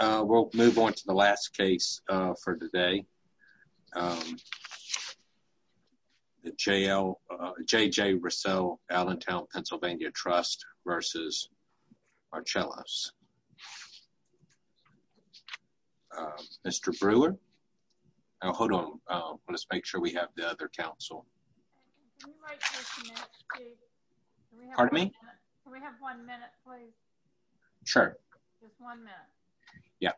We'll move on to the last case for today, J.J. Rissell, Allentown PA, Trust v. Marchelos. Mr. Brewer, hold on, let's make sure we have the other counsel. Can you wait just a minute, Steve? Pardon me? Can we have one minute, please? Sure. Just one minute. Yeah.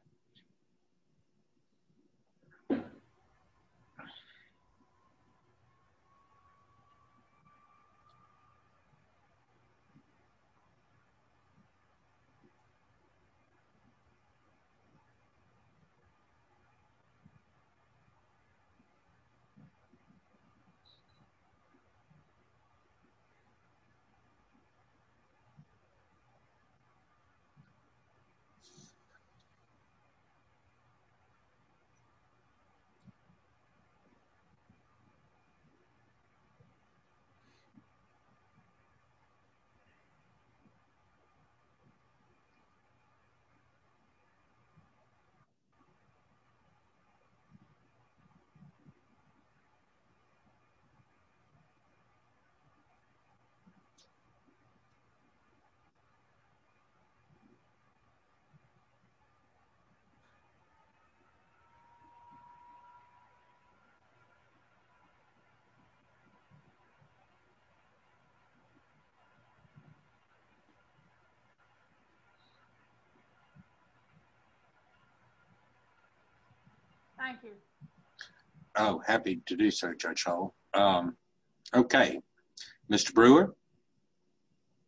Thank you. Oh, happy to do so, Judge Hull. Okay, Mr. Brewer?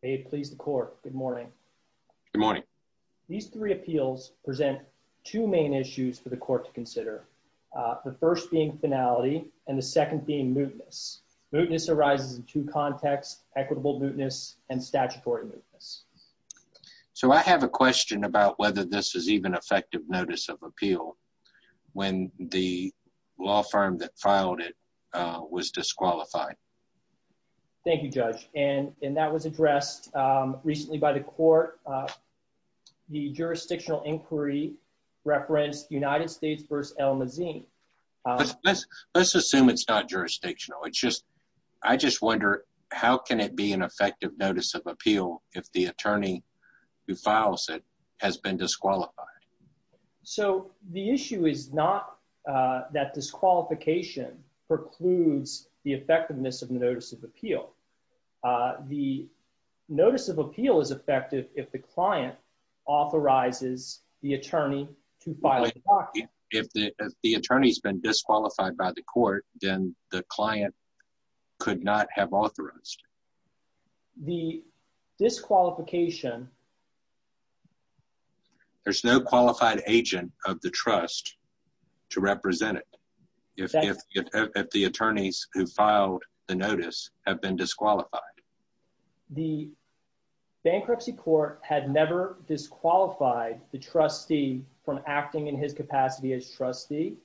May it please the court, good morning. Good morning. These three appeals present two main issues for the court to consider, the first being finality and the second being mootness. Mootness arises in two contexts, equitable mootness and statutory mootness. So I have a question about whether this is even effective notice of appeal when the law firm that filed it was disqualified. Thank you, Judge. And that was addressed recently by the court. The jurisdictional inquiry referenced United States v. Almazine. Let's assume it's not jurisdictional. I just wonder, how can it be an effective notice of appeal if the attorney who files it has been disqualified? So the issue is not that disqualification precludes the effectiveness of the notice of appeal. The notice of appeal is effective if the client authorizes the attorney to file it. If the attorney has been disqualified by the court, then the client could not have authorized. The disqualification... There's no qualified agent of the trust to represent it if the attorneys who filed the notice have been disqualified. The bankruptcy court had never disqualified the trustee from acting in his capacity as trustee.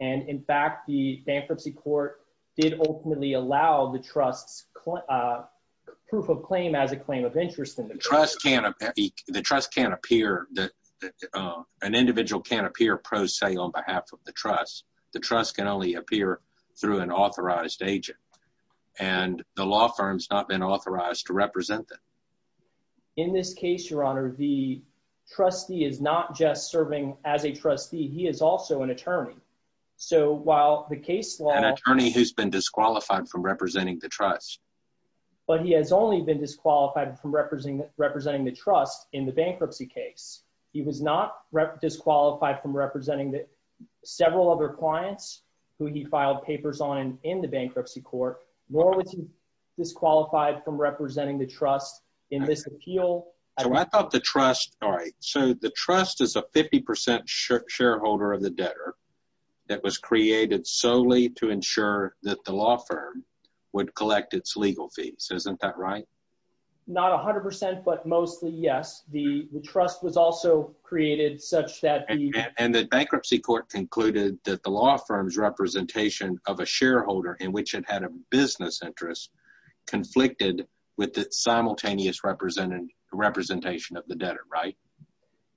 And in fact, the bankruptcy court did ultimately allow the trust's proof of claim as a claim of interest. The trust can't appear... An individual can't appear pro se on behalf of the trust. The trust can only appear through an authorized agent. And the law firm's not been authorized to represent them. In this case, Your Honor, the trustee is not just serving as a trustee. He is also an attorney. So while the case law... An attorney who's been disqualified from representing the trust. But he has only been disqualified from representing the trust in the bankruptcy case. He was not disqualified from representing several other clients who he filed papers on in the bankruptcy court, nor was he disqualified from representing the trust in this appeal. So I thought the trust... All right. So the trust is a 50% shareholder of the debtor that was created solely to ensure that the law firm would collect its legal fees. Isn't that right? Not 100%, but mostly, yes. The trust was also created such that... And the bankruptcy court concluded that the law firm's representation of a shareholder in which it had a business interest conflicted with its simultaneous representation of the debtor, right?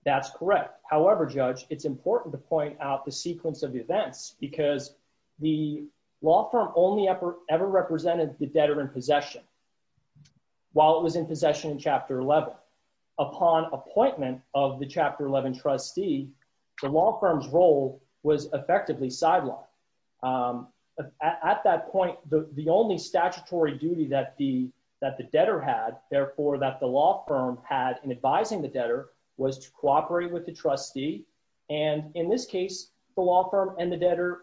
That's correct. However, Judge, it's important to point out the sequence of events because the law firm only ever represented the debtor in possession while it was in possession in Chapter 11. Upon appointment of the Chapter 11 trustee, the law firm's role was effectively sidelined. At that point, the only statutory duty that the debtor had, therefore, that the law firm had in advising the debtor was to cooperate with the trustee. And in this case, the law firm and the debtor,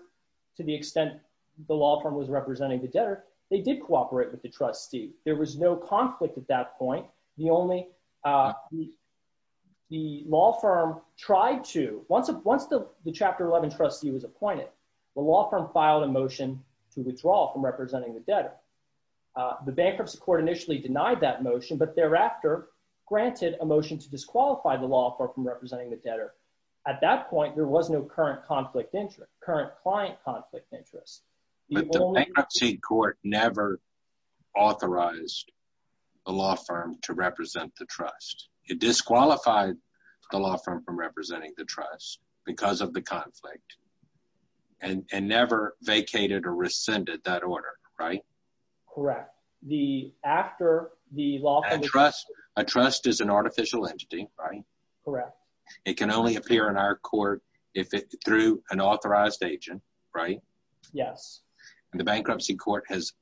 to the extent the law firm was representing the debtor, they did cooperate with the trustee. There was no conflict at that point. The law firm tried to... Once the Chapter 11 trustee was appointed, the law firm filed a motion to withdraw from representing the debtor. The bankruptcy court initially denied that motion, but thereafter granted a motion to disqualify the law firm from representing the debtor. At that point, there was no current conflict interest, current client conflict interest. But the bankruptcy court never authorized the law firm to represent the trust. It disqualified the law firm from representing the trust because of the conflict and never vacated or rescinded that order, right? Correct. A trust is an artificial entity, right? Correct. It can only appear in our court through an authorized agent, right? Yes. And the bankruptcy court has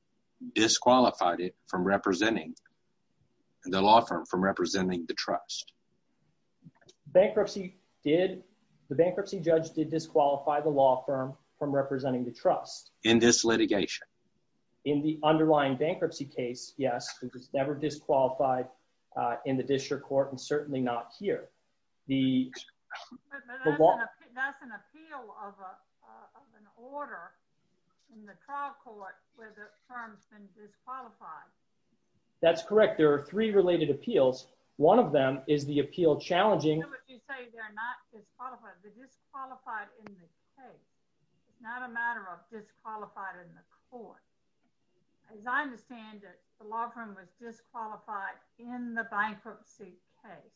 disqualified it from representing, the law firm from representing the trust. The bankruptcy judge did disqualify the law firm from representing the trust. In this litigation. In the underlying bankruptcy case, yes. It was never disqualified in the district court and certainly not here. The... That's an appeal of an order in the trial court where the firm's been disqualified. That's correct. There are three related appeals. One of them is the appeal challenging... You say they're not disqualified. They're disqualified in the case. It's not a matter of disqualified in the court. As I understand it, the law firm was disqualified in the bankruptcy case.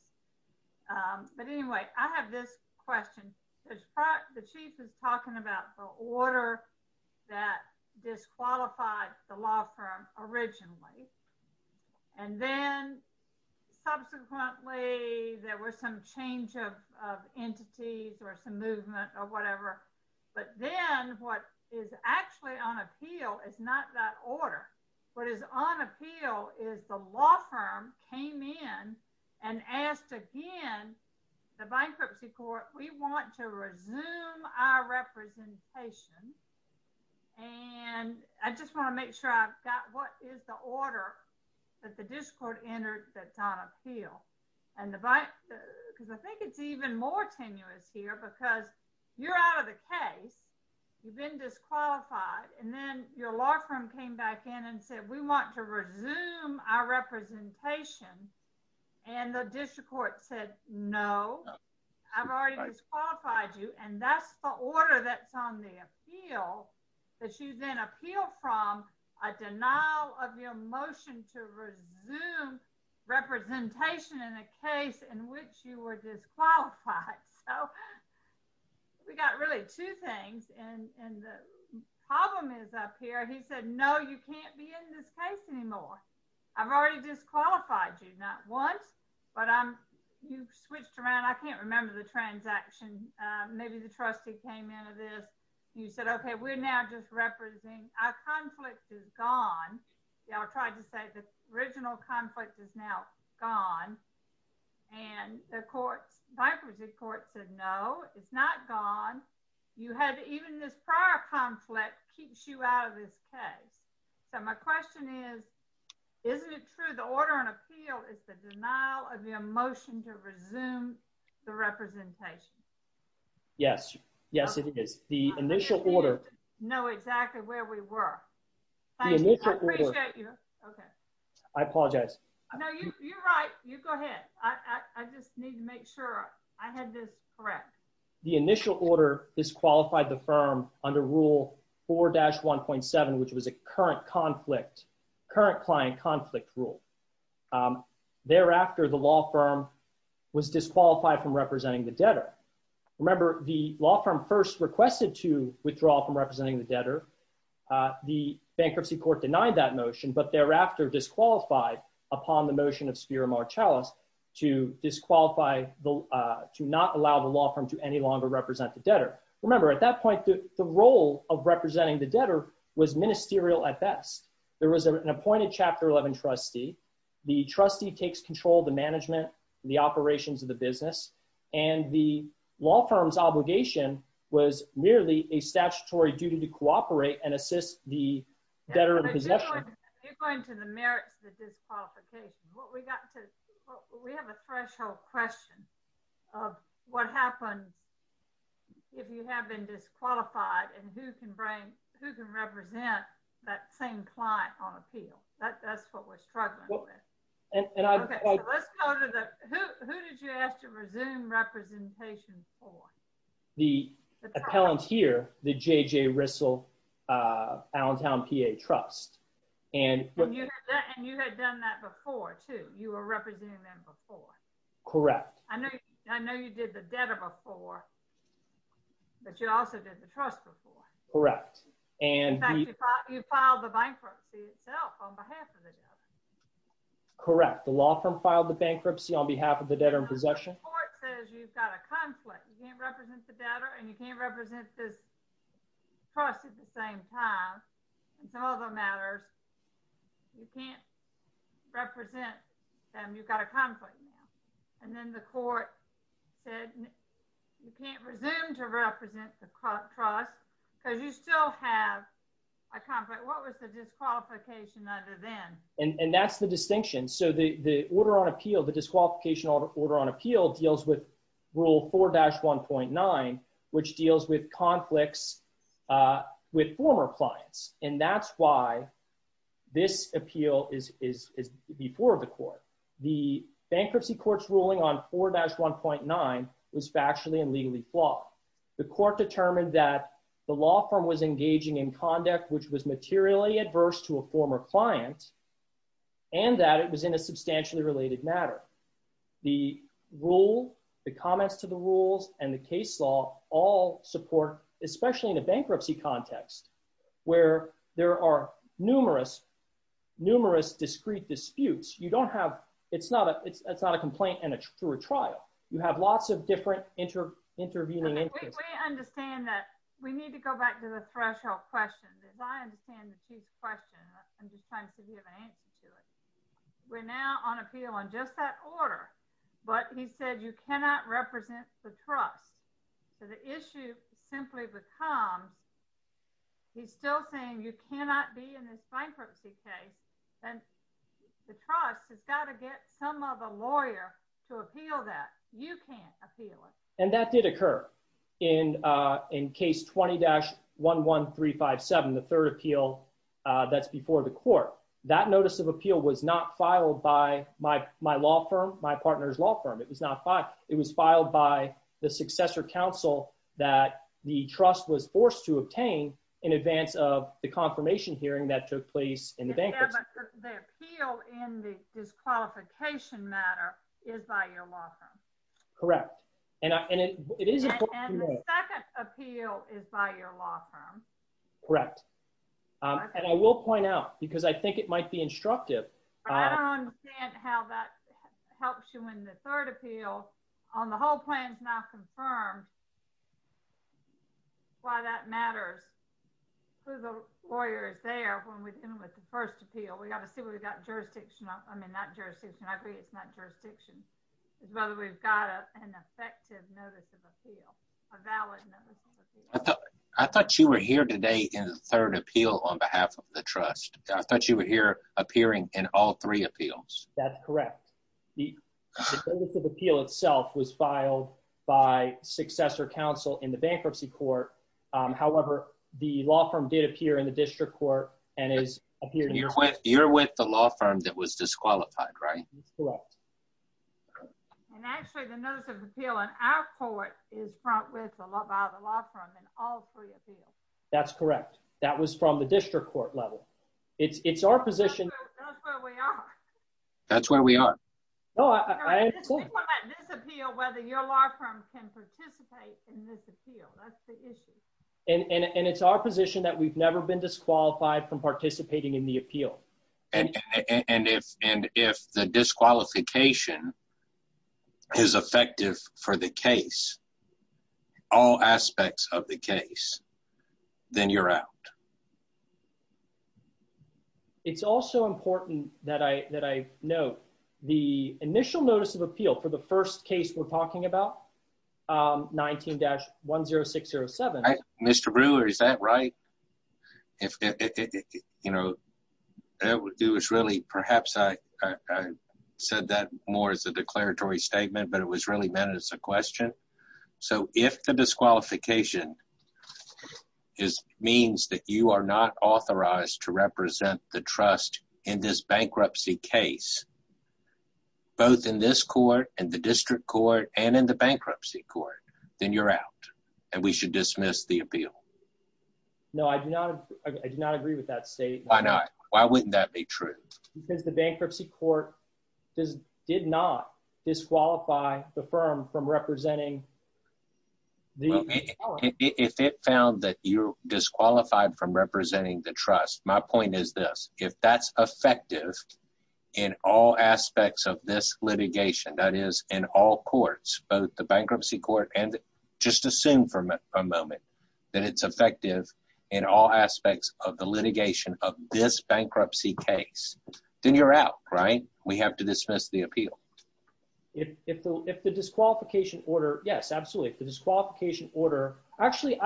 But anyway, I have this question. The chief is talking about the order that disqualified the law firm originally and then subsequently there was some change of entities or some movement or whatever. But then what is actually on appeal is not that order. What is on appeal is the law firm came in and asked again, the bankruptcy court, we want to resume our representation. And I just want to make sure I've got what is the order that the district court entered that's on appeal. And the... Because I think it's even more tenuous here because you're out of the case. You've been disqualified. And then your law firm came back in and said, we want to resume our representation. And the district court said, no, I've already disqualified you. And that's the order that's on the appeal that you then appeal from a denial of your motion to resume representation in a case in which you were disqualified. So we got really two things. And the problem is up here. He said, no, you can't be in this case anymore. I've already disqualified you. Not once, but you've switched around. I can't remember the transaction. Maybe the trustee came into this. You said, okay, we're now just representing... Our conflict is gone. Y'all tried to say the original conflict is now gone. And the courts, the bankruptcy court said, no, it's not gone. You had even this prior conflict keeps you out of this case. So my question is, isn't it true? The order on appeal is the denial of your motion to resume the representation. Yes. Yes, it is. The initial order... I don't know exactly where we were. I appreciate you. I apologize. No, you're right. You go ahead. I just need to make sure I had this correct. The initial order disqualified the firm under rule 4-1.7, which was a current conflict, current client conflict rule. Thereafter, the law firm was disqualified from representing the debtor. Remember the law firm first requested to withdraw from representing the debtor. The bankruptcy court denied that motion, but thereafter disqualified upon the motion of Spiro Marchalis to disqualify, to not allow the law firm to any longer represent the debtor. Remember at that point, the role of representing the debtor was ministerial at best. There was an appointed chapter 11 trustee. The trustee takes control of the management, the operations of the business. And the law firm's obligation was merely a statutory duty to cooperate and assist the debtor in possession. You're going to the merits of the disqualification. We have a threshold question of what happens if you have been disqualified and who can represent that same client on appeal. That's what we're struggling with. Who did you ask to resume representation for? The appellant here, the J.J. Rissell Allentown PA Trust. And you had done that before too. You were representing them before. Correct. I know you did the debtor before, but you also did the trust before. Correct. In fact, you filed the bankruptcy itself on behalf of the debtor. Correct. The law firm filed the bankruptcy on behalf of the debtor in possession. The court says you've got a conflict. You can't represent the debtor and you can't represent this trust at the same time. And some other matters, you can't represent them. You've got a conflict now. And then the court said you can't resume to represent the trust because you still have a conflict. What was the disqualification under then? And that's the distinction. So the disqualification order on appeal deals with rule 4-1.9, which deals with conflicts with former clients. And that's why this appeal is before the court. The bankruptcy court's ruling on 4-1.9 was factually and legally flawed. The court determined that the law firm was engaging in conduct which was materially adverse to a former client and that it was in a substantially related matter. The rule, the comments to the rules, and the case law all support, especially in a bankruptcy context, where there are numerous, numerous discrete disputes. You don't have, it's not a complaint and a truer trial. You have lots of different intervening interests. We understand that. We need to go back to the threshold question. As I understand the chief question, I'm just trying to see if you have an answer to it. We're now on appeal on just that order, but he said you cannot represent the trust. So the issue simply becomes, he's still saying you cannot be in this bankruptcy case. And the trust has got to get some other lawyer to appeal that. You can't appeal it. And that did occur in case 20-11357, the third appeal that's before the court. That notice of appeal was not filed by my law firm, my partner's law firm. It was not filed. It was filed by the successor counsel that the trust was forced to obtain in advance of the confirmation hearing that took place in the bankruptcy. But the appeal in the disqualification matter is by your law firm. Correct. And the second appeal is by your law firm. Correct. And I will point out, because I think it might be instructive. But I don't understand how that helps you when the third appeal on the whole plan is now confirmed, why that matters. Who the lawyer is there when we're dealing with the first appeal. We've got to see what we've got jurisdiction of. I mean, not jurisdiction. I agree it's not jurisdiction. It's whether we've got an effective notice of appeal, a valid notice of appeal. I thought you were here today in the third appeal on behalf of the trust. I thought you were here appearing in all three appeals. That's correct. The notice of appeal itself was filed by successor counsel in the bankruptcy court. However, the law firm did appear in the district court and has appeared. You're with the law firm that was disqualified, right? That's correct. And actually the notice of appeal in our court is front with the law firm in all three appeals. That's correct. That was from the district court level. It's our position. That's where we are. No, I'm cool. People might disappeal whether your law firm can participate in this appeal. That's the issue. And it's our position that we've never been disqualified from participating in the appeal. And if the disqualification is effective for the case, all aspects of the case, then you're out. It's also important that I note the initial notice of appeal for the first case we're talking about, 19-10607. Mr. Brewer, is that right? Perhaps I said that more as a declaratory statement, but it was really meant as a question. So if the disqualification means that you are not authorized to represent the trust in this bankruptcy case, both in this court and the district court and in the bankruptcy court, then you're out and we should dismiss the appeal. No, I do not agree with that statement. Why not? Why wouldn't that be true? Because the bankruptcy court did not disqualify the firm from representing the firm. If it found that you're disqualified from representing the trust, my point is this, if that's effective in all aspects of this litigation, that is in all courts, both the bankruptcy court and just assume for a moment that it's effective in all aspects of the litigation of this bankruptcy case, then you're out, right? We have to dismiss the appeal. If the disqualification order, yes, absolutely. If the disqualification order, actually,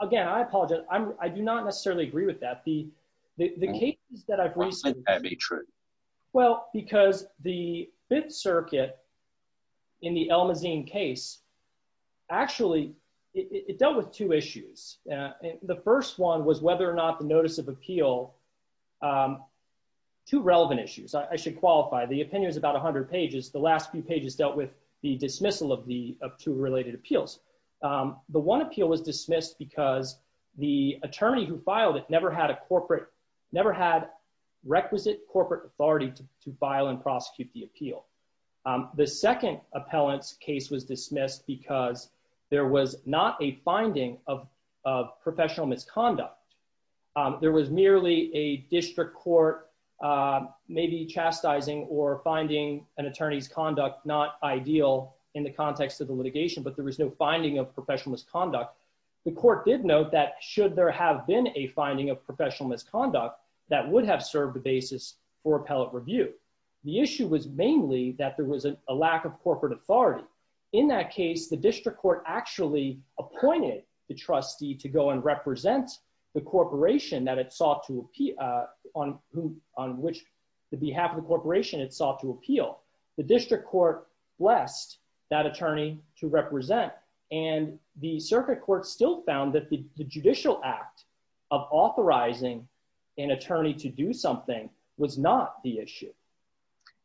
again, I apologize. I do not necessarily agree with that. The cases that I've recently- Why wouldn't that be true? Well, because the Fifth Circuit in the El Mazin case, actually, it dealt with two issues. The first one was whether or not the notice of appeal, two relevant issues. I should qualify. The opinion is about 100 pages. The last few pages dealt with the dismissal of two related appeals. The one appeal was dismissed because the attorney who filed it never had requisite corporate authority to file and prosecute the appeal. The second appellant's case was dismissed because there was not a finding of professional misconduct. There was merely a district court maybe chastising or finding an attorney's conduct not ideal in the context of the litigation, but there was no finding of professional misconduct. The court did note that should there have been a finding of professional misconduct, that would have served the basis for appellate review. The issue was mainly that there was a lack of corporate authority. In that case, the district court actually appointed the trustee to go and represent the corporation that it sought to appeal, on which the behalf of the corporation it sought to appeal. The district court blessed that attorney to represent, and the circuit court still found that the judicial act of authorizing an attorney to do something was not the issue.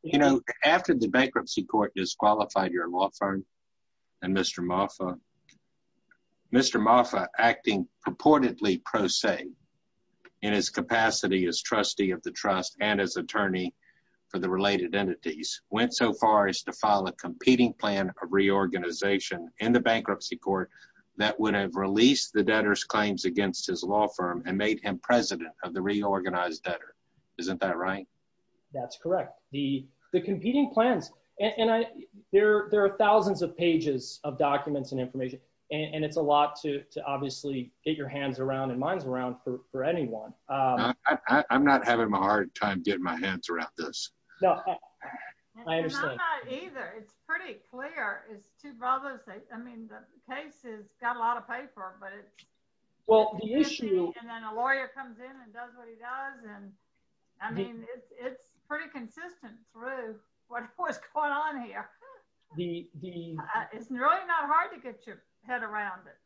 You know, after the bankruptcy court disqualified your law firm and Mr. Moffa acting purportedly pro se in his capacity as trustee of the trust and as attorney for the related entities, went so far as to file a competing plan of reorganization in the bankruptcy court that would have released the debtor's claims against his law firm and made him president of the reorganized debtor. Isn't that right? That's correct. The competing plans, and there are thousands of pages of documents and information, and it's a lot to obviously get your hands around and minds around for anyone. I'm not having a hard time getting my hands around this. I understand. And I'm not either. It's pretty clear. It's two brothers. I mean, the case has got a lot of paper, but it's, and then a lawyer comes in and does what he does. And I mean, it's pretty consistent through what's going on here. It's really not hard to get your head around it.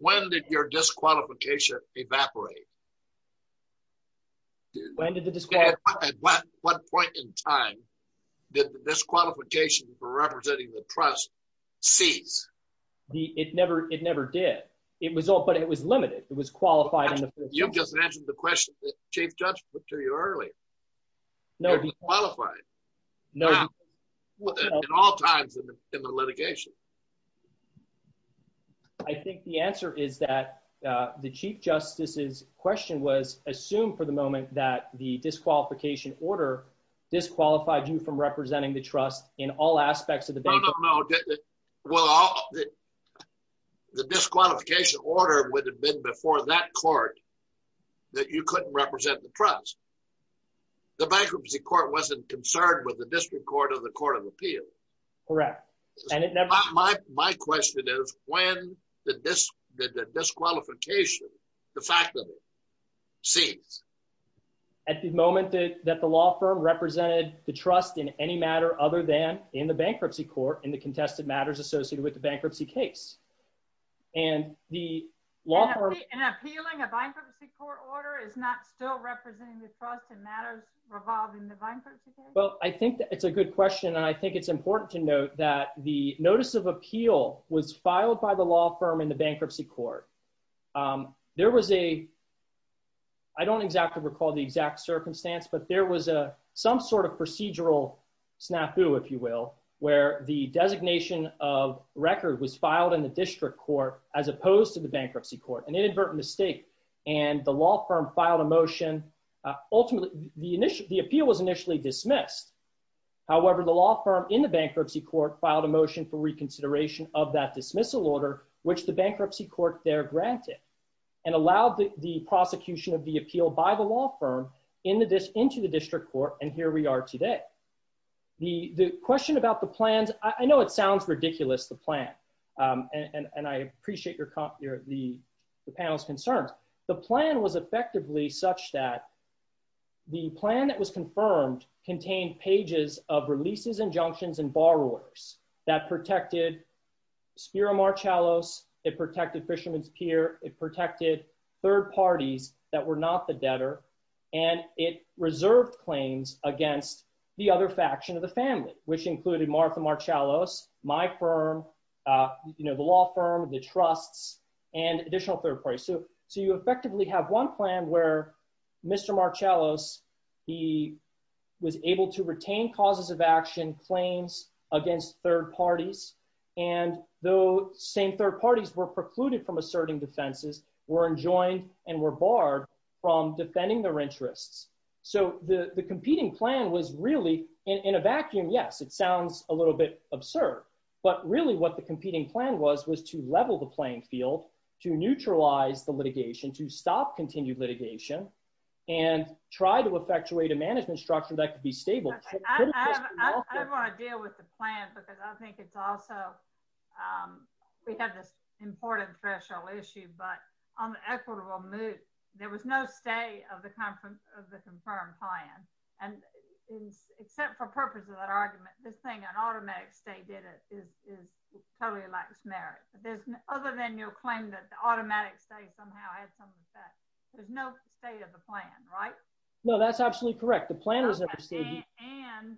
When did your disqualification evaporate? At what point in time did the disqualification for representing the trust cease? It never did. It was all, but it was limited. It was qualified. You just answered the question that Chief Judge put to you earlier. No, he qualified. In all times in the litigation. I think the answer is that the Chief Justice's question was assumed for the moment that the disqualification order disqualified you from representing the trust in all aspects of the bank. No, no, no. Well, the disqualification order would have been before that court that you couldn't represent the trust. The Bankruptcy Court wasn't concerned with the District Court or the Court of Appeal. Correct. And my question is, when did the disqualification de facto cease? At the moment that the law firm represented the trust in any matter other than in the Bankruptcy Court in the contested matters associated with the Bankruptcy case. And the law firm... And appealing a Bankruptcy Court order is not still representing the trust in matters revolving the Bankruptcy case? Well, I think it's a good question. And I think it's important to note that the notice of appeal was filed by the law firm in the Bankruptcy Court. There was a... I don't exactly recall the exact circumstance, but there was some sort of procedural snafu, if you will, where the designation of record was filed in the District Court as opposed to the Bankruptcy Court. An inadvertent mistake. And the law firm filed a motion. Ultimately, the appeal was initially dismissed. However, the law firm in the Bankruptcy Court filed a motion for reconsideration of that dismissal order, which the Bankruptcy Court there granted. And allowed the prosecution of the appeal by the law firm into the District Court. And here we are today. The question about the plans... I know it sounds ridiculous, the plan. And I appreciate the panel's concerns. The plan was effectively such that the plan that was confirmed contained pages of releases, injunctions, and borrowers that protected Spiro Marchalos. It protected Fisherman's Pier. It protected third parties that were not the debtor. And it reserved claims against the other faction of the family, which included Martha Marchalos, my firm, the law firm, the trusts, and additional third parties. So you effectively have one plan where Mr. Marchalos, he was able to retain causes of action, claims against third parties. And though same third parties were precluded from asserting defenses, were enjoined and were barred from defending their interests. So the competing plan was really, in a vacuum, yes, it sounds a little bit absurd. But really what the competing plan was, was to level the playing field, to neutralize the litigation, to stop continued litigation, and try to effectuate a management structure that could be stable. But I don't want to deal with the plan because I think it's also, we have this important threshold issue, but on the equitable move, there was no stay of the confirmed plan. And except for purpose of that argument, this thing, an automatic stay did it, is totally a lax merit. But other than your claim that the automatic stay somehow had some effect, there's no stay of the plan, right? No, that's absolutely correct. The plan was never stayed. And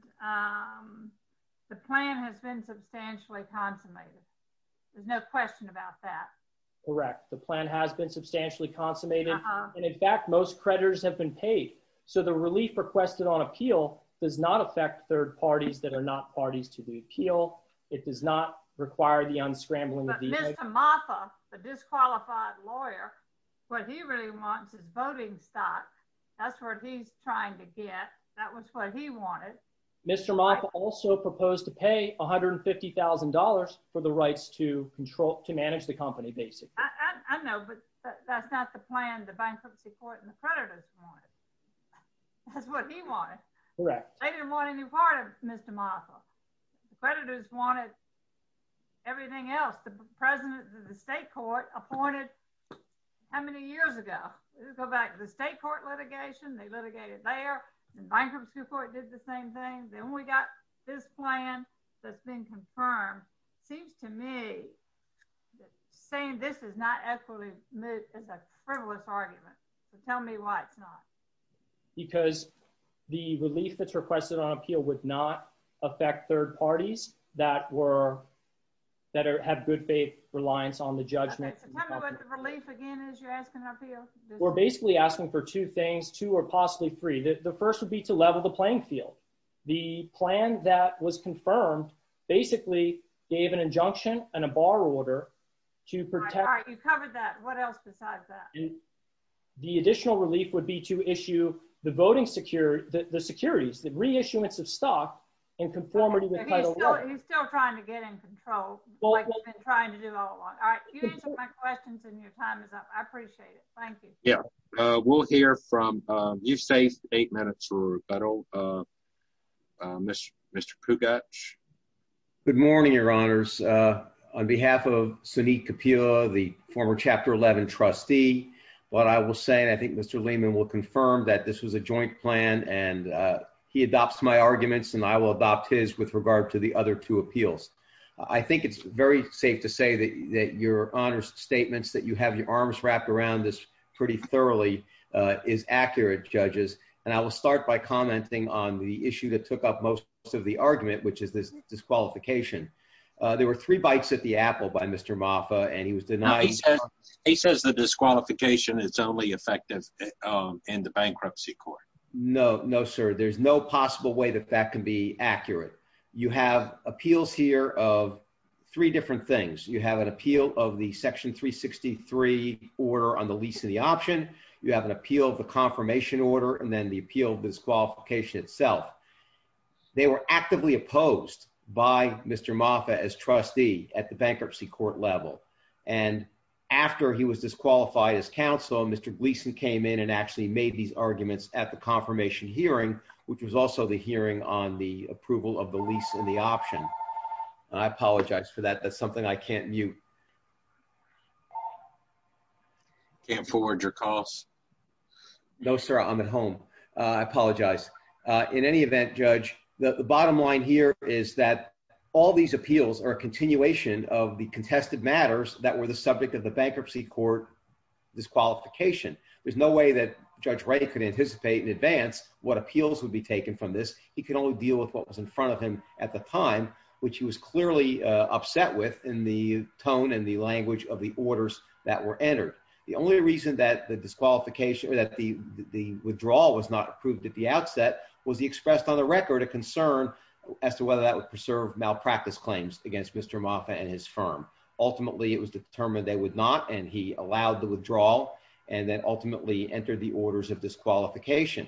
the plan has been substantially consummated. There's no question about that. Correct. The plan has been substantially consummated. And in fact, most creditors have been paid. So the relief requested on appeal does not affect third parties that are not parties to the appeal. It does not require the unscrambling. But Mr. Martha, the disqualified lawyer, what he really wants is voting stock. That's what he's trying to get. That was what he wanted. Mr. Martha also proposed to pay $150,000 for the rights to control, to manage the company, basically. I know, but that's not the plan the Bankruptcy Court and the creditors wanted. That's what he wanted. Correct. They didn't want any part of Mr. Martha. The creditors wanted everything else. The president of the state court appointed how many years ago? Go back to the state court litigation. They litigated there. The Bankruptcy Court did the same thing. Then we got this plan that's been confirmed. Seems to me, saying this is not equitably moved is a frivolous argument. Tell me why it's not. Because the relief that's requested on appeal would not affect third parties that have good faith reliance on the judgment. Tell me what the relief, again, is you're asking on appeal? We're basically asking for two things, two or possibly three. The first would be to level the playing field. The plan that was confirmed basically gave an injunction and a bar order to protect- All right, you covered that. What else besides that? The additional relief would be to issue the voting securities, the reissuance of stock in conformity with federal law. He's still trying to get in control, like he's been trying to do all along. You answered my questions and your time is up. I appreciate it. Thank you. Yeah, we'll hear from- You've saved eight minutes for rebuttal, Mr. Kugach. Good morning, your honors. On behalf of Sunit Kapur, the former Chapter 11 trustee, what I will say, and I think Mr. Lehman will confirm, that this was a joint plan and he adopts my arguments and I will adopt his with regard to the other two appeals. I think it's very safe to say that your honors statements, that you have your arms wrapped around this pretty thoroughly, is accurate, judges. And I will start by commenting on the issue that took up most of the argument, which is this disqualification. There were three bites at the apple by Mr. Mafa and he was denied- No, he says the disqualification is only effective in the bankruptcy court. No, no, sir. There's no possible way that that can be accurate. You have appeals here of three different things. You have an appeal of the Section 363 order on the lease and the option. You have an appeal of the confirmation order and then the appeal of disqualification itself. They were actively opposed by Mr. Mafa as trustee at the bankruptcy court level. And after he was disqualified as counsel, Mr. Gleason came in and actually made these arguments at the confirmation hearing, which was also the hearing on the approval of the lease and the option. And I apologize for that. That's something I can't mute. I can't forward your calls. No, sir, I'm at home. I apologize. In any event, Judge, the bottom line here is that all these appeals are a continuation of the contested matters that were the subject of the bankruptcy court disqualification. There's no way that Judge Ray could anticipate in advance what appeals would be taken from this. He could only deal with what was in front of him at the time, which he was clearly upset with in the tone and the language of the orders that were entered. The only reason that the disqualification or that the withdrawal was not approved at the outset was he expressed on the record a concern as to whether that would preserve malpractice claims against Mr. Mafa and his firm. Ultimately, it was determined they would not, and he allowed the withdrawal and then ultimately entered the orders of disqualification.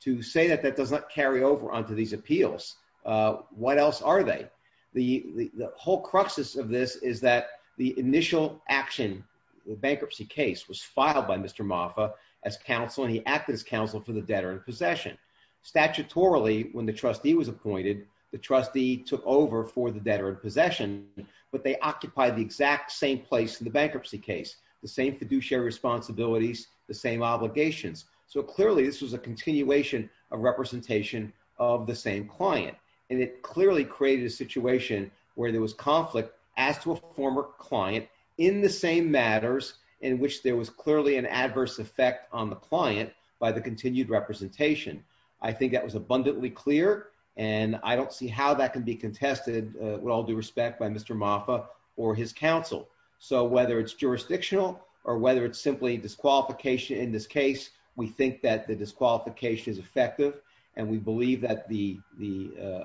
To say that that does not carry over onto these appeals, what else are they? The whole crux of this is that the initial action, the bankruptcy case was filed by Mr. Mafa as counsel, and he acted as counsel for the debtor in possession. Statutorily, when the trustee was appointed, the trustee took over for the debtor in possession, but they occupied the exact same place in the bankruptcy case, the same fiduciary responsibilities, the same obligations. So clearly this was a continuation of representation of the same client, and it clearly created a situation where there was conflict as to a former client in the same matters in which there was clearly an adverse effect on the client by the continued representation. I think that was abundantly clear, and I don't see how that can be contested with all due respect by Mr. Mafa or his counsel. So whether it's jurisdictional or whether it's simply disqualification in this case, we think that the disqualification is effective, and we believe that the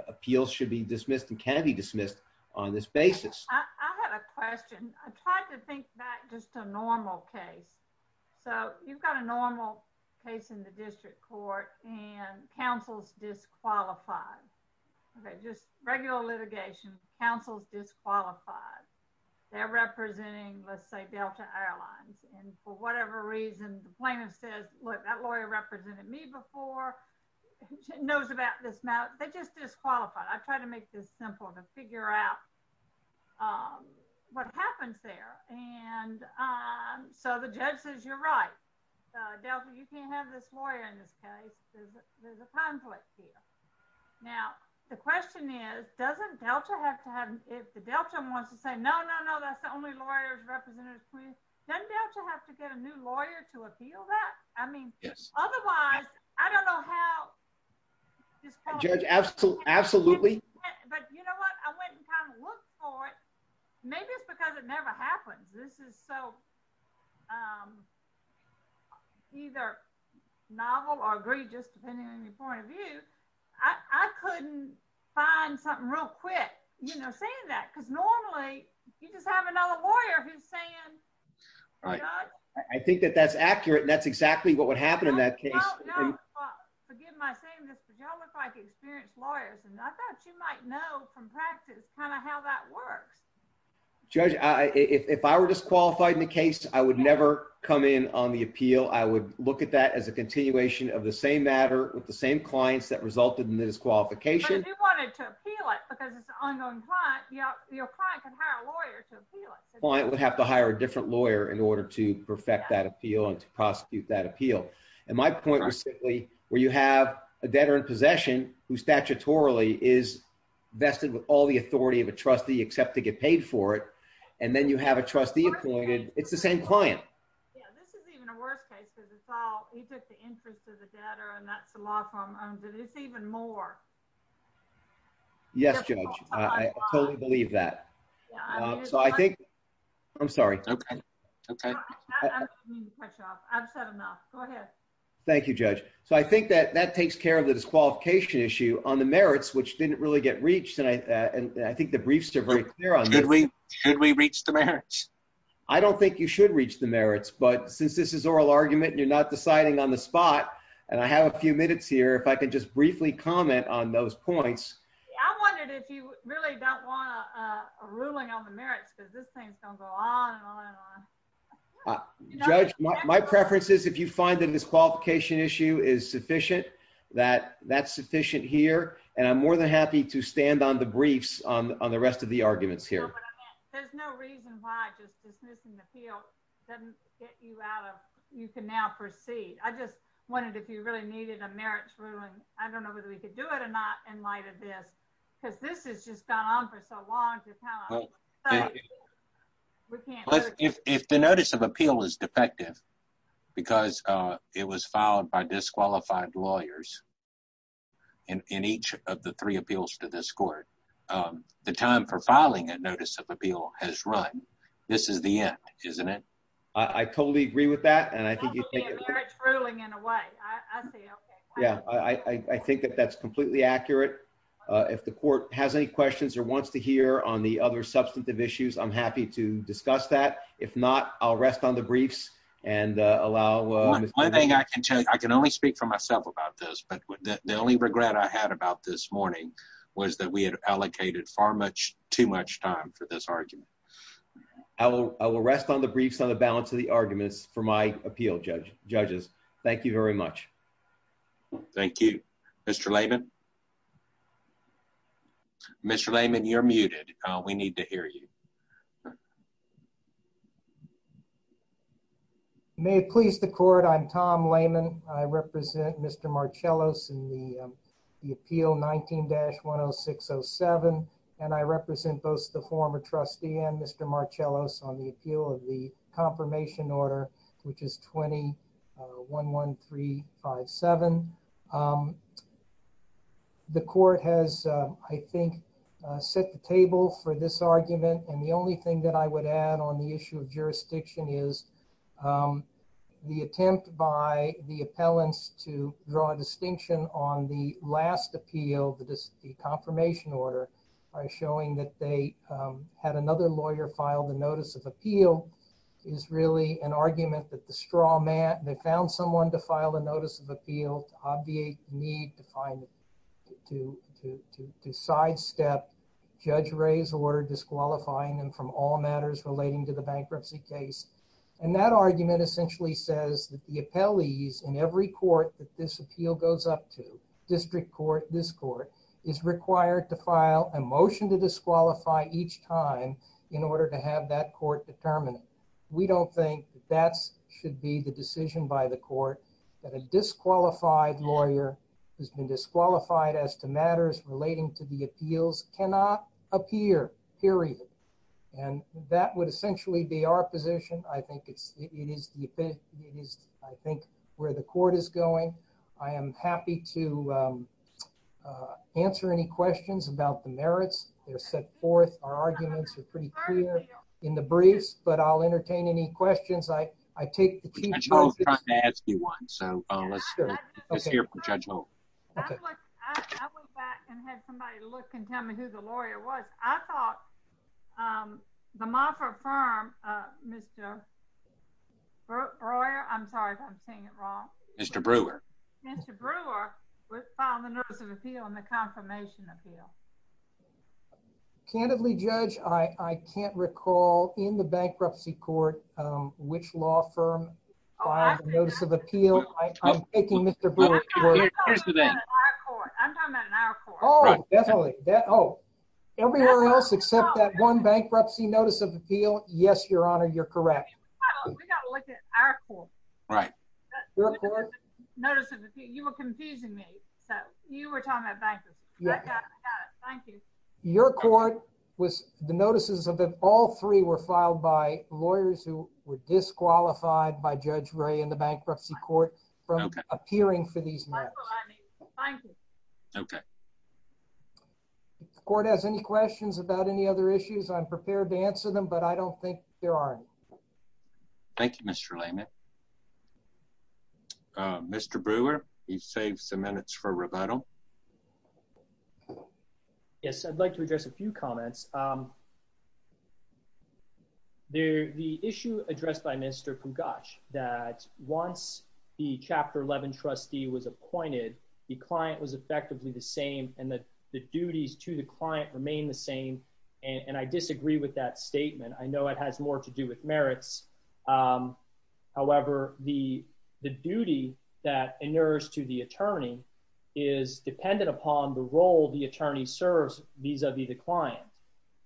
appeals should be dismissed and can be dismissed on this basis. I have a question. I tried to think back just to a normal case. So you've got a normal case in the district court, and counsel's disqualified. Okay, just regular litigation, counsel's disqualified. They're representing, let's say, Delta Airlines, and for whatever reason, the plaintiff says, that lawyer represented me before, knows about this matter. They're just disqualified. I've tried to make this simple to figure out what happens there. And so the judge says, you're right, Delta, you can't have this lawyer in this case. There's a conflict here. Now, the question is, doesn't Delta have to have, if the Delta wants to say, no, no, no, that's the only lawyer who's represented, doesn't Delta have to get a new lawyer to appeal that? I mean, otherwise, I don't know how- Judge, absolutely. But you know what? I went and kind of looked for it. Maybe it's because it never happens. This is so either novel or egregious, depending on your point of view. I couldn't find something real quick, you know, saying that, because normally, you just have another lawyer who's saying, you know. I think that that's accurate, and that's exactly what would happen in that case. No, no, forgive my saying this, but y'all look like experienced lawyers, and I thought you might know from practice kind of how that works. Judge, if I were disqualified in the case, I would never come in on the appeal. I would look at that as a continuation of the same matter with the same clients that resulted in this qualification. But if you wanted to appeal it, because it's an ongoing client, your client can hire a lawyer to appeal it. Client would have to hire a different lawyer in order to perfect that appeal and to prosecute that appeal. And my point was simply, where you have a debtor in possession who statutorily is vested with all the authority of a trustee, except to get paid for it, and then you have a trustee appointed, it's the same client. Yeah, this is even a worse case, because it's all, we took the interest of the debtor, and that's the law firm owns it. It's even more. Yes, Judge, I totally believe that. So I think, I'm sorry. Okay, okay. I don't mean to cut you off. I've said enough. Go ahead. Thank you, Judge. So I think that that takes care of the disqualification issue on the merits, which didn't really get reached. And I think the briefs are very clear on this. Should we reach the merits? I don't think you should reach the merits, but since this is oral argument and you're not deciding on the spot, and I have a few minutes here, if I could just briefly comment on those points. I wondered if you really don't want a ruling on the merits, because this thing's gonna go on and on and on. Judge, my preference is, if you find that this qualification issue is sufficient, that that's sufficient here, and I'm more than happy to stand on the briefs on the rest of the arguments here. There's no reason why just dismissing the appeal doesn't get you out of, you can now proceed. I just wanted, if you really needed a merits ruling, I don't know whether we could do it or not in light of this, because this has just gone on for so long. Well, if the notice of appeal is defective, because it was filed by disqualified lawyers in each of the three appeals to this court, the time for filing a notice of appeal has run. This is the end, isn't it? I totally agree with that, and I think you take it. That would be a merits ruling in a way. Yeah, I think that that's completely accurate. If the court has any questions or wants to hear the other substantive issues, I'm happy to discuss that. If not, I'll rest on the briefs and allow Mr. Layman. One thing I can tell you, I can only speak for myself about this, but the only regret I had about this morning was that we had allocated too much time for this argument. I will rest on the briefs on the balance of the arguments for my appeal, judges. Thank you very much. Thank you, Mr. Layman. Mr. Layman, you're muted. We need to hear you. May it please the court. I'm Tom Layman. I represent Mr. Marcellos in the appeal 19-10607, and I represent both the former trustee and Mr. Marcellos on the appeal of the confirmation order, which is 20-11357. The court has, I think, set the table for this argument, and the only thing that I would add on the issue of jurisdiction is the attempt by the appellants to draw a distinction on the last appeal, the confirmation order, by showing that they had another lawyer file the notice of appeal is really an argument that the straw man, they found someone to file a notice of appeal to obviate the need to sidestep Judge Ray's order disqualifying them from all matters relating to the bankruptcy case, and that argument essentially says that the appellees in every court that this appeal goes up to, district court, this court, is required to file a motion to disqualify each time in order to have that court determine it. We don't think that should be the decision by the court that a disqualified lawyer who's been disqualified as to matters relating to the appeals cannot appear, period, and that would essentially be our position. I think it is where the court is going. I am happy to answer any questions about the merits. They're set forth. Our arguments are pretty clear in the briefs, but I'll entertain any questions. I take the chief's position. I was trying to ask you one, so let's hear from Judge Holt. I went back and had somebody look and tell me who the lawyer was. I thought the Moffitt firm, Mr. Breuer, I'm sorry if I'm saying it wrong. Mr. Breuer. Mr. Breuer was filing the notice of appeal and the confirmation appeal. Candidly, Judge, I can't recall in the bankruptcy court which law firm filed the notice of appeal. I'm taking Mr. Breuer's word. I'm talking about in our court. Oh, definitely. Everyone else except that one bankruptcy notice of appeal. Yes, Your Honor, you're correct. We got to look at our court. Right. You were confusing me. So you were talking about bankruptcy. I got it, I got it. Thank you. Your court was, the notices of all three were filed by lawyers who were disqualified by Judge Ray in the bankruptcy court from appearing for these matters. Okay. If the court has any questions about any other issues, I'm prepared to answer them, but I don't think there are any. Thank you, Mr. Layman. Mr. Breuer, you've saved some minutes for rebuttal. Yes, I'd like to address a few comments. The issue addressed by Mr. Pugash that once the Chapter 11 trustee was appointed, the client was effectively the same and that the duties to the client remain the same. And I disagree with that statement. I know it has more to do with merits. However, the duty that inures to the attorney is dependent upon the role the attorney serves vis-a-vis the client.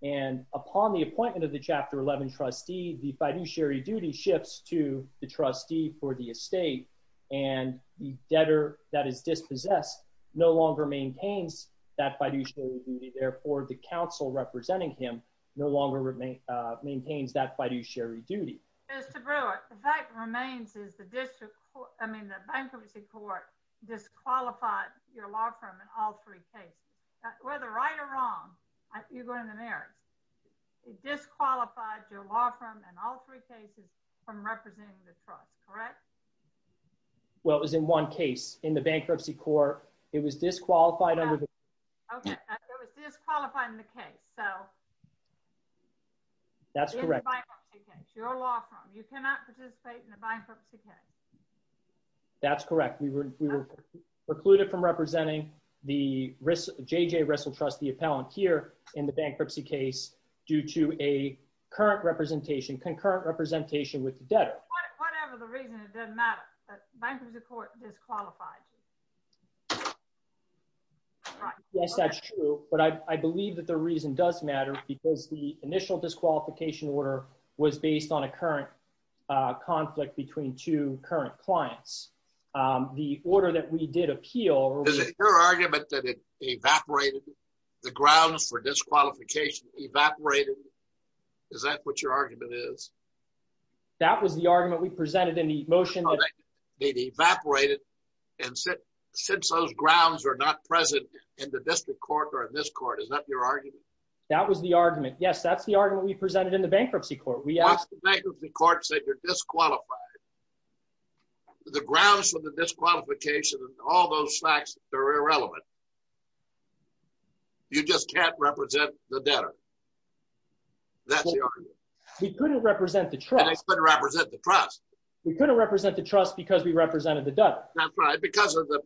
And upon the appointment of the Chapter 11 trustee, the fiduciary duty shifts to the trustee for the estate and the debtor that is dispossessed no longer maintains that fiduciary duty. Therefore, the counsel representing him no longer maintains that fiduciary duty. Mr. Breuer, the fact remains is the bankruptcy court disqualified your law firm in all three cases. Whether right or wrong, you're going to merits, it disqualified your law firm in all three cases from representing the trust, correct? Mr. Breuer. Well, it was in one case in the bankruptcy court. It was disqualified under the- Ms. Laird. Okay, it was disqualifying the case. So- Mr. Breuer. That's correct. Ms. Laird. Your law firm, you cannot participate in the bankruptcy case. Mr. Breuer. That's correct. We were precluded from representing the J.J. Russell Trust, the appellant here in the bankruptcy case due to a current representation, concurrent representation with the debtor. Ms. Laird. Whatever the reason, it doesn't matter. The bankruptcy court disqualified you. Mr. Breuer. Yes, that's true. But I believe that the reason does matter because the initial disqualification order was based on a current conflict between two current clients. The order that we did appeal- Mr. Breuer. Is it your argument that it evaporated, the grounds for disqualification evaporated? Is that what your argument is? Mr. Laird. That was the argument we presented in the motion that- Mr. Breuer. It evaporated. And since those grounds are not present in the district court or in this court, is that your argument? Mr. Laird. That was the argument. Yes, that's the argument we presented in the bankruptcy court. We asked- Mr. Breuer. Bankruptcy court said you're disqualified. The grounds for the disqualification and all those facts, they're irrelevant. You just can't represent the debtor. That's the argument. Mr. Laird. We couldn't represent the trust. Mr. Breuer. They couldn't represent the trust. Mr. Laird. We couldn't represent the trust because we represented the debtor. That's right. Because of the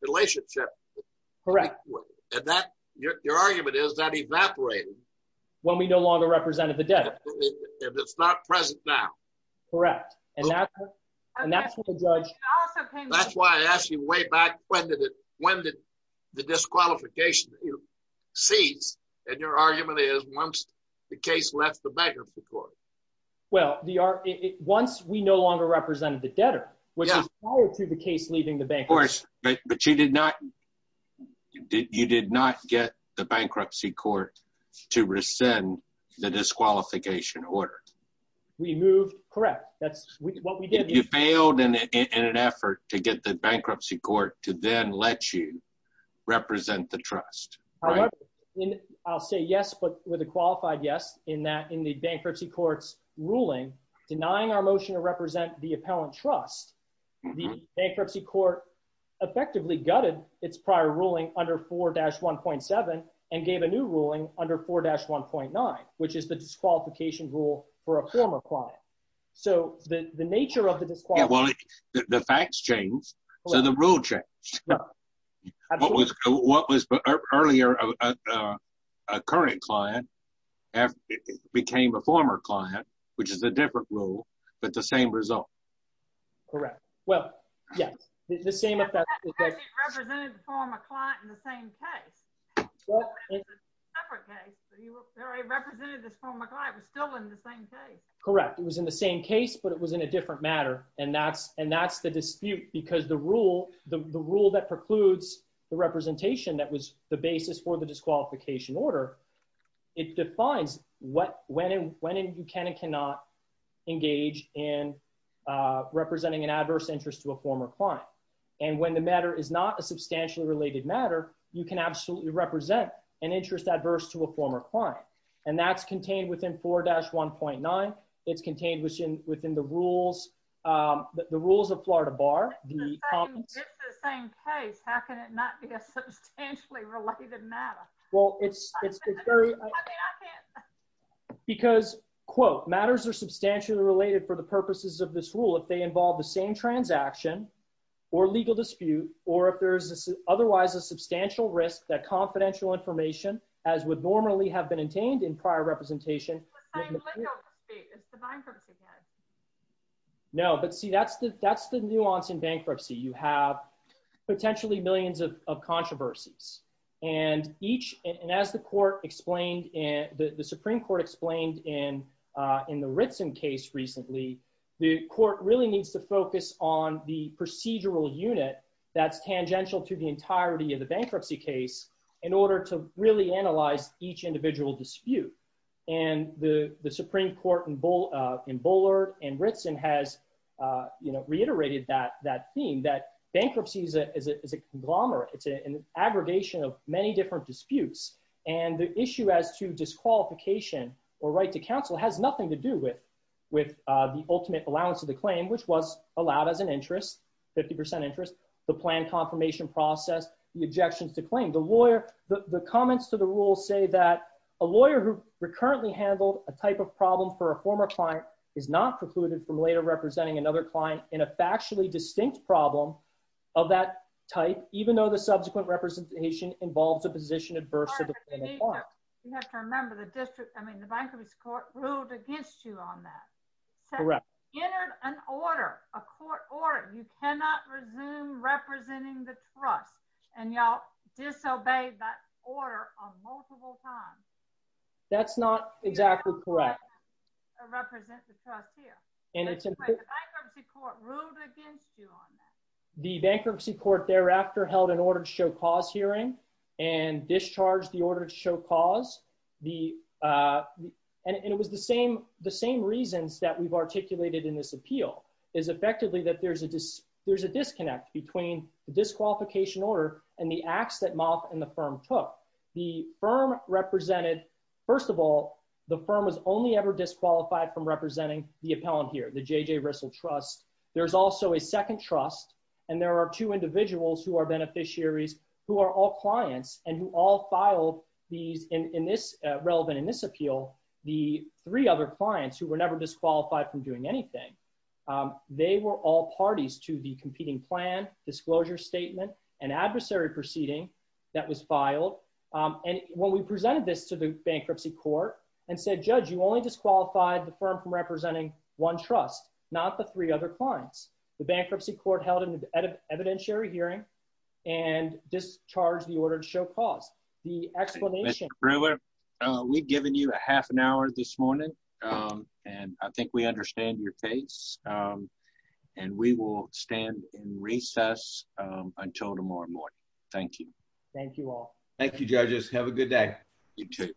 relationship- Mr. Laird. Correct. Mr. Breuer. And that, your argument is that evaporated- Mr. Laird. When we no longer represented the debtor. Mr. Breuer. If it's not present now. Mr. Laird. Correct. And that's what the judge- Ms. Laird. That's why I asked you way back, when did the disqualification cease and your argument is once the case left the bankruptcy court? Mr. Breuer. Well, once we no longer represented the debtor. Mr. Laird. Yeah. Mr. Breuer. Which is prior to the case leaving the bankruptcy- Mr. Laird. But you did not get the bankruptcy court to rescind the disqualification order. Mr. Breuer. We moved, correct. That's what we did. Mr. Laird. You failed in an effort to get the bankruptcy court to then let you represent the trust. Mr. Breuer. However, I'll say yes, but with a qualified yes, in that in the bankruptcy court's ruling, denying our motion to represent the appellant trust, the bankruptcy court effectively gutted its prior ruling under 4-1.7 and gave a new ruling under 4-1.9, which is the disqualification rule for a former client. So the nature of the disqualification- Yeah. Well, the facts changed, so the rule changed. Mr. Breuer. A current client became a former client, which is a different rule, but the same result. Correct. Well, yes. The same- But that doesn't represent the former client in the same case. It's a separate case, but it represented this former client was still in the same case. Correct. It was in the same case, but it was in a different matter, and that's the dispute because the rule that precludes the representation that was the basis for the disqualification order, it defines when you can and cannot engage in representing an adverse interest to a former client. And when the matter is not a substantially related matter, you can absolutely represent an interest adverse to a former client. And that's contained within 4-1.9. It's contained within the rules of Florida Bar. If it's the same case, how can it not be a substantially related matter? Well, it's very- Because, quote, matters are substantially related for the purposes of this rule if they involve the same transaction or legal dispute, or if there is otherwise a substantial risk that confidential information, as would normally have been obtained in prior representation- It's the same legal dispute. It's the bankruptcy case. No, but see, that's the nuance in bankruptcy. You have potentially millions of controversies. And each- And as the court explained- The Supreme Court explained in the Ritson case recently, the court really needs to focus on the procedural unit that's tangential to the entirety of the bankruptcy case in order to really analyze each individual dispute. And the Supreme Court in Bullard and Ritson has, you know, that bankruptcy is a conglomerate. It's an aggregation of many different disputes. And the issue as to disqualification or right to counsel has nothing to do with the ultimate allowance of the claim, which was allowed as an interest, 50% interest, the plan confirmation process, the objections to claim. The lawyer- The comments to the rule say that a lawyer who recurrently handled a type of problem for a former client is not precluded from later representing another client in a factually distinct problem of that type, even though the subsequent representation involves a position adverse to the plaintiff's claim. You have to remember the district, I mean, the bankruptcy court ruled against you on that. Correct. Entered an order, a court order, you cannot resume representing the trust and y'all disobeyed that order on multiple times. That's not exactly correct. You cannot represent the trust here. And it's- The bankruptcy court ruled against you on that. The bankruptcy court thereafter held an order to show cause hearing and discharged the order to show cause. And it was the same reasons that we've articulated in this appeal is effectively that there's a disconnect between the disqualification order and the acts that Moth and the firm took. The firm represented, first of all, the firm was only ever disqualified from representing the appellant here, the J.J. Rissell Trust. There's also a second trust. And there are two individuals who are beneficiaries, who are all clients and who all filed these in this, relevant in this appeal, the three other clients who were never disqualified from doing anything. They were all parties to the competing plan, disclosure statement, and adversary proceeding that was filed. And when we presented this to the bankruptcy court and said, judge, you only disqualified the firm from representing one trust, not the three other clients. The bankruptcy court held an evidentiary hearing and discharged the order to show cause. The explanation- Mr. Brewer, we've given you a half an hour this morning. And I think we understand your case. And we will stand in recess until tomorrow morning. Thank you. Thank you all. Thank you, judges. Have a good day. You too.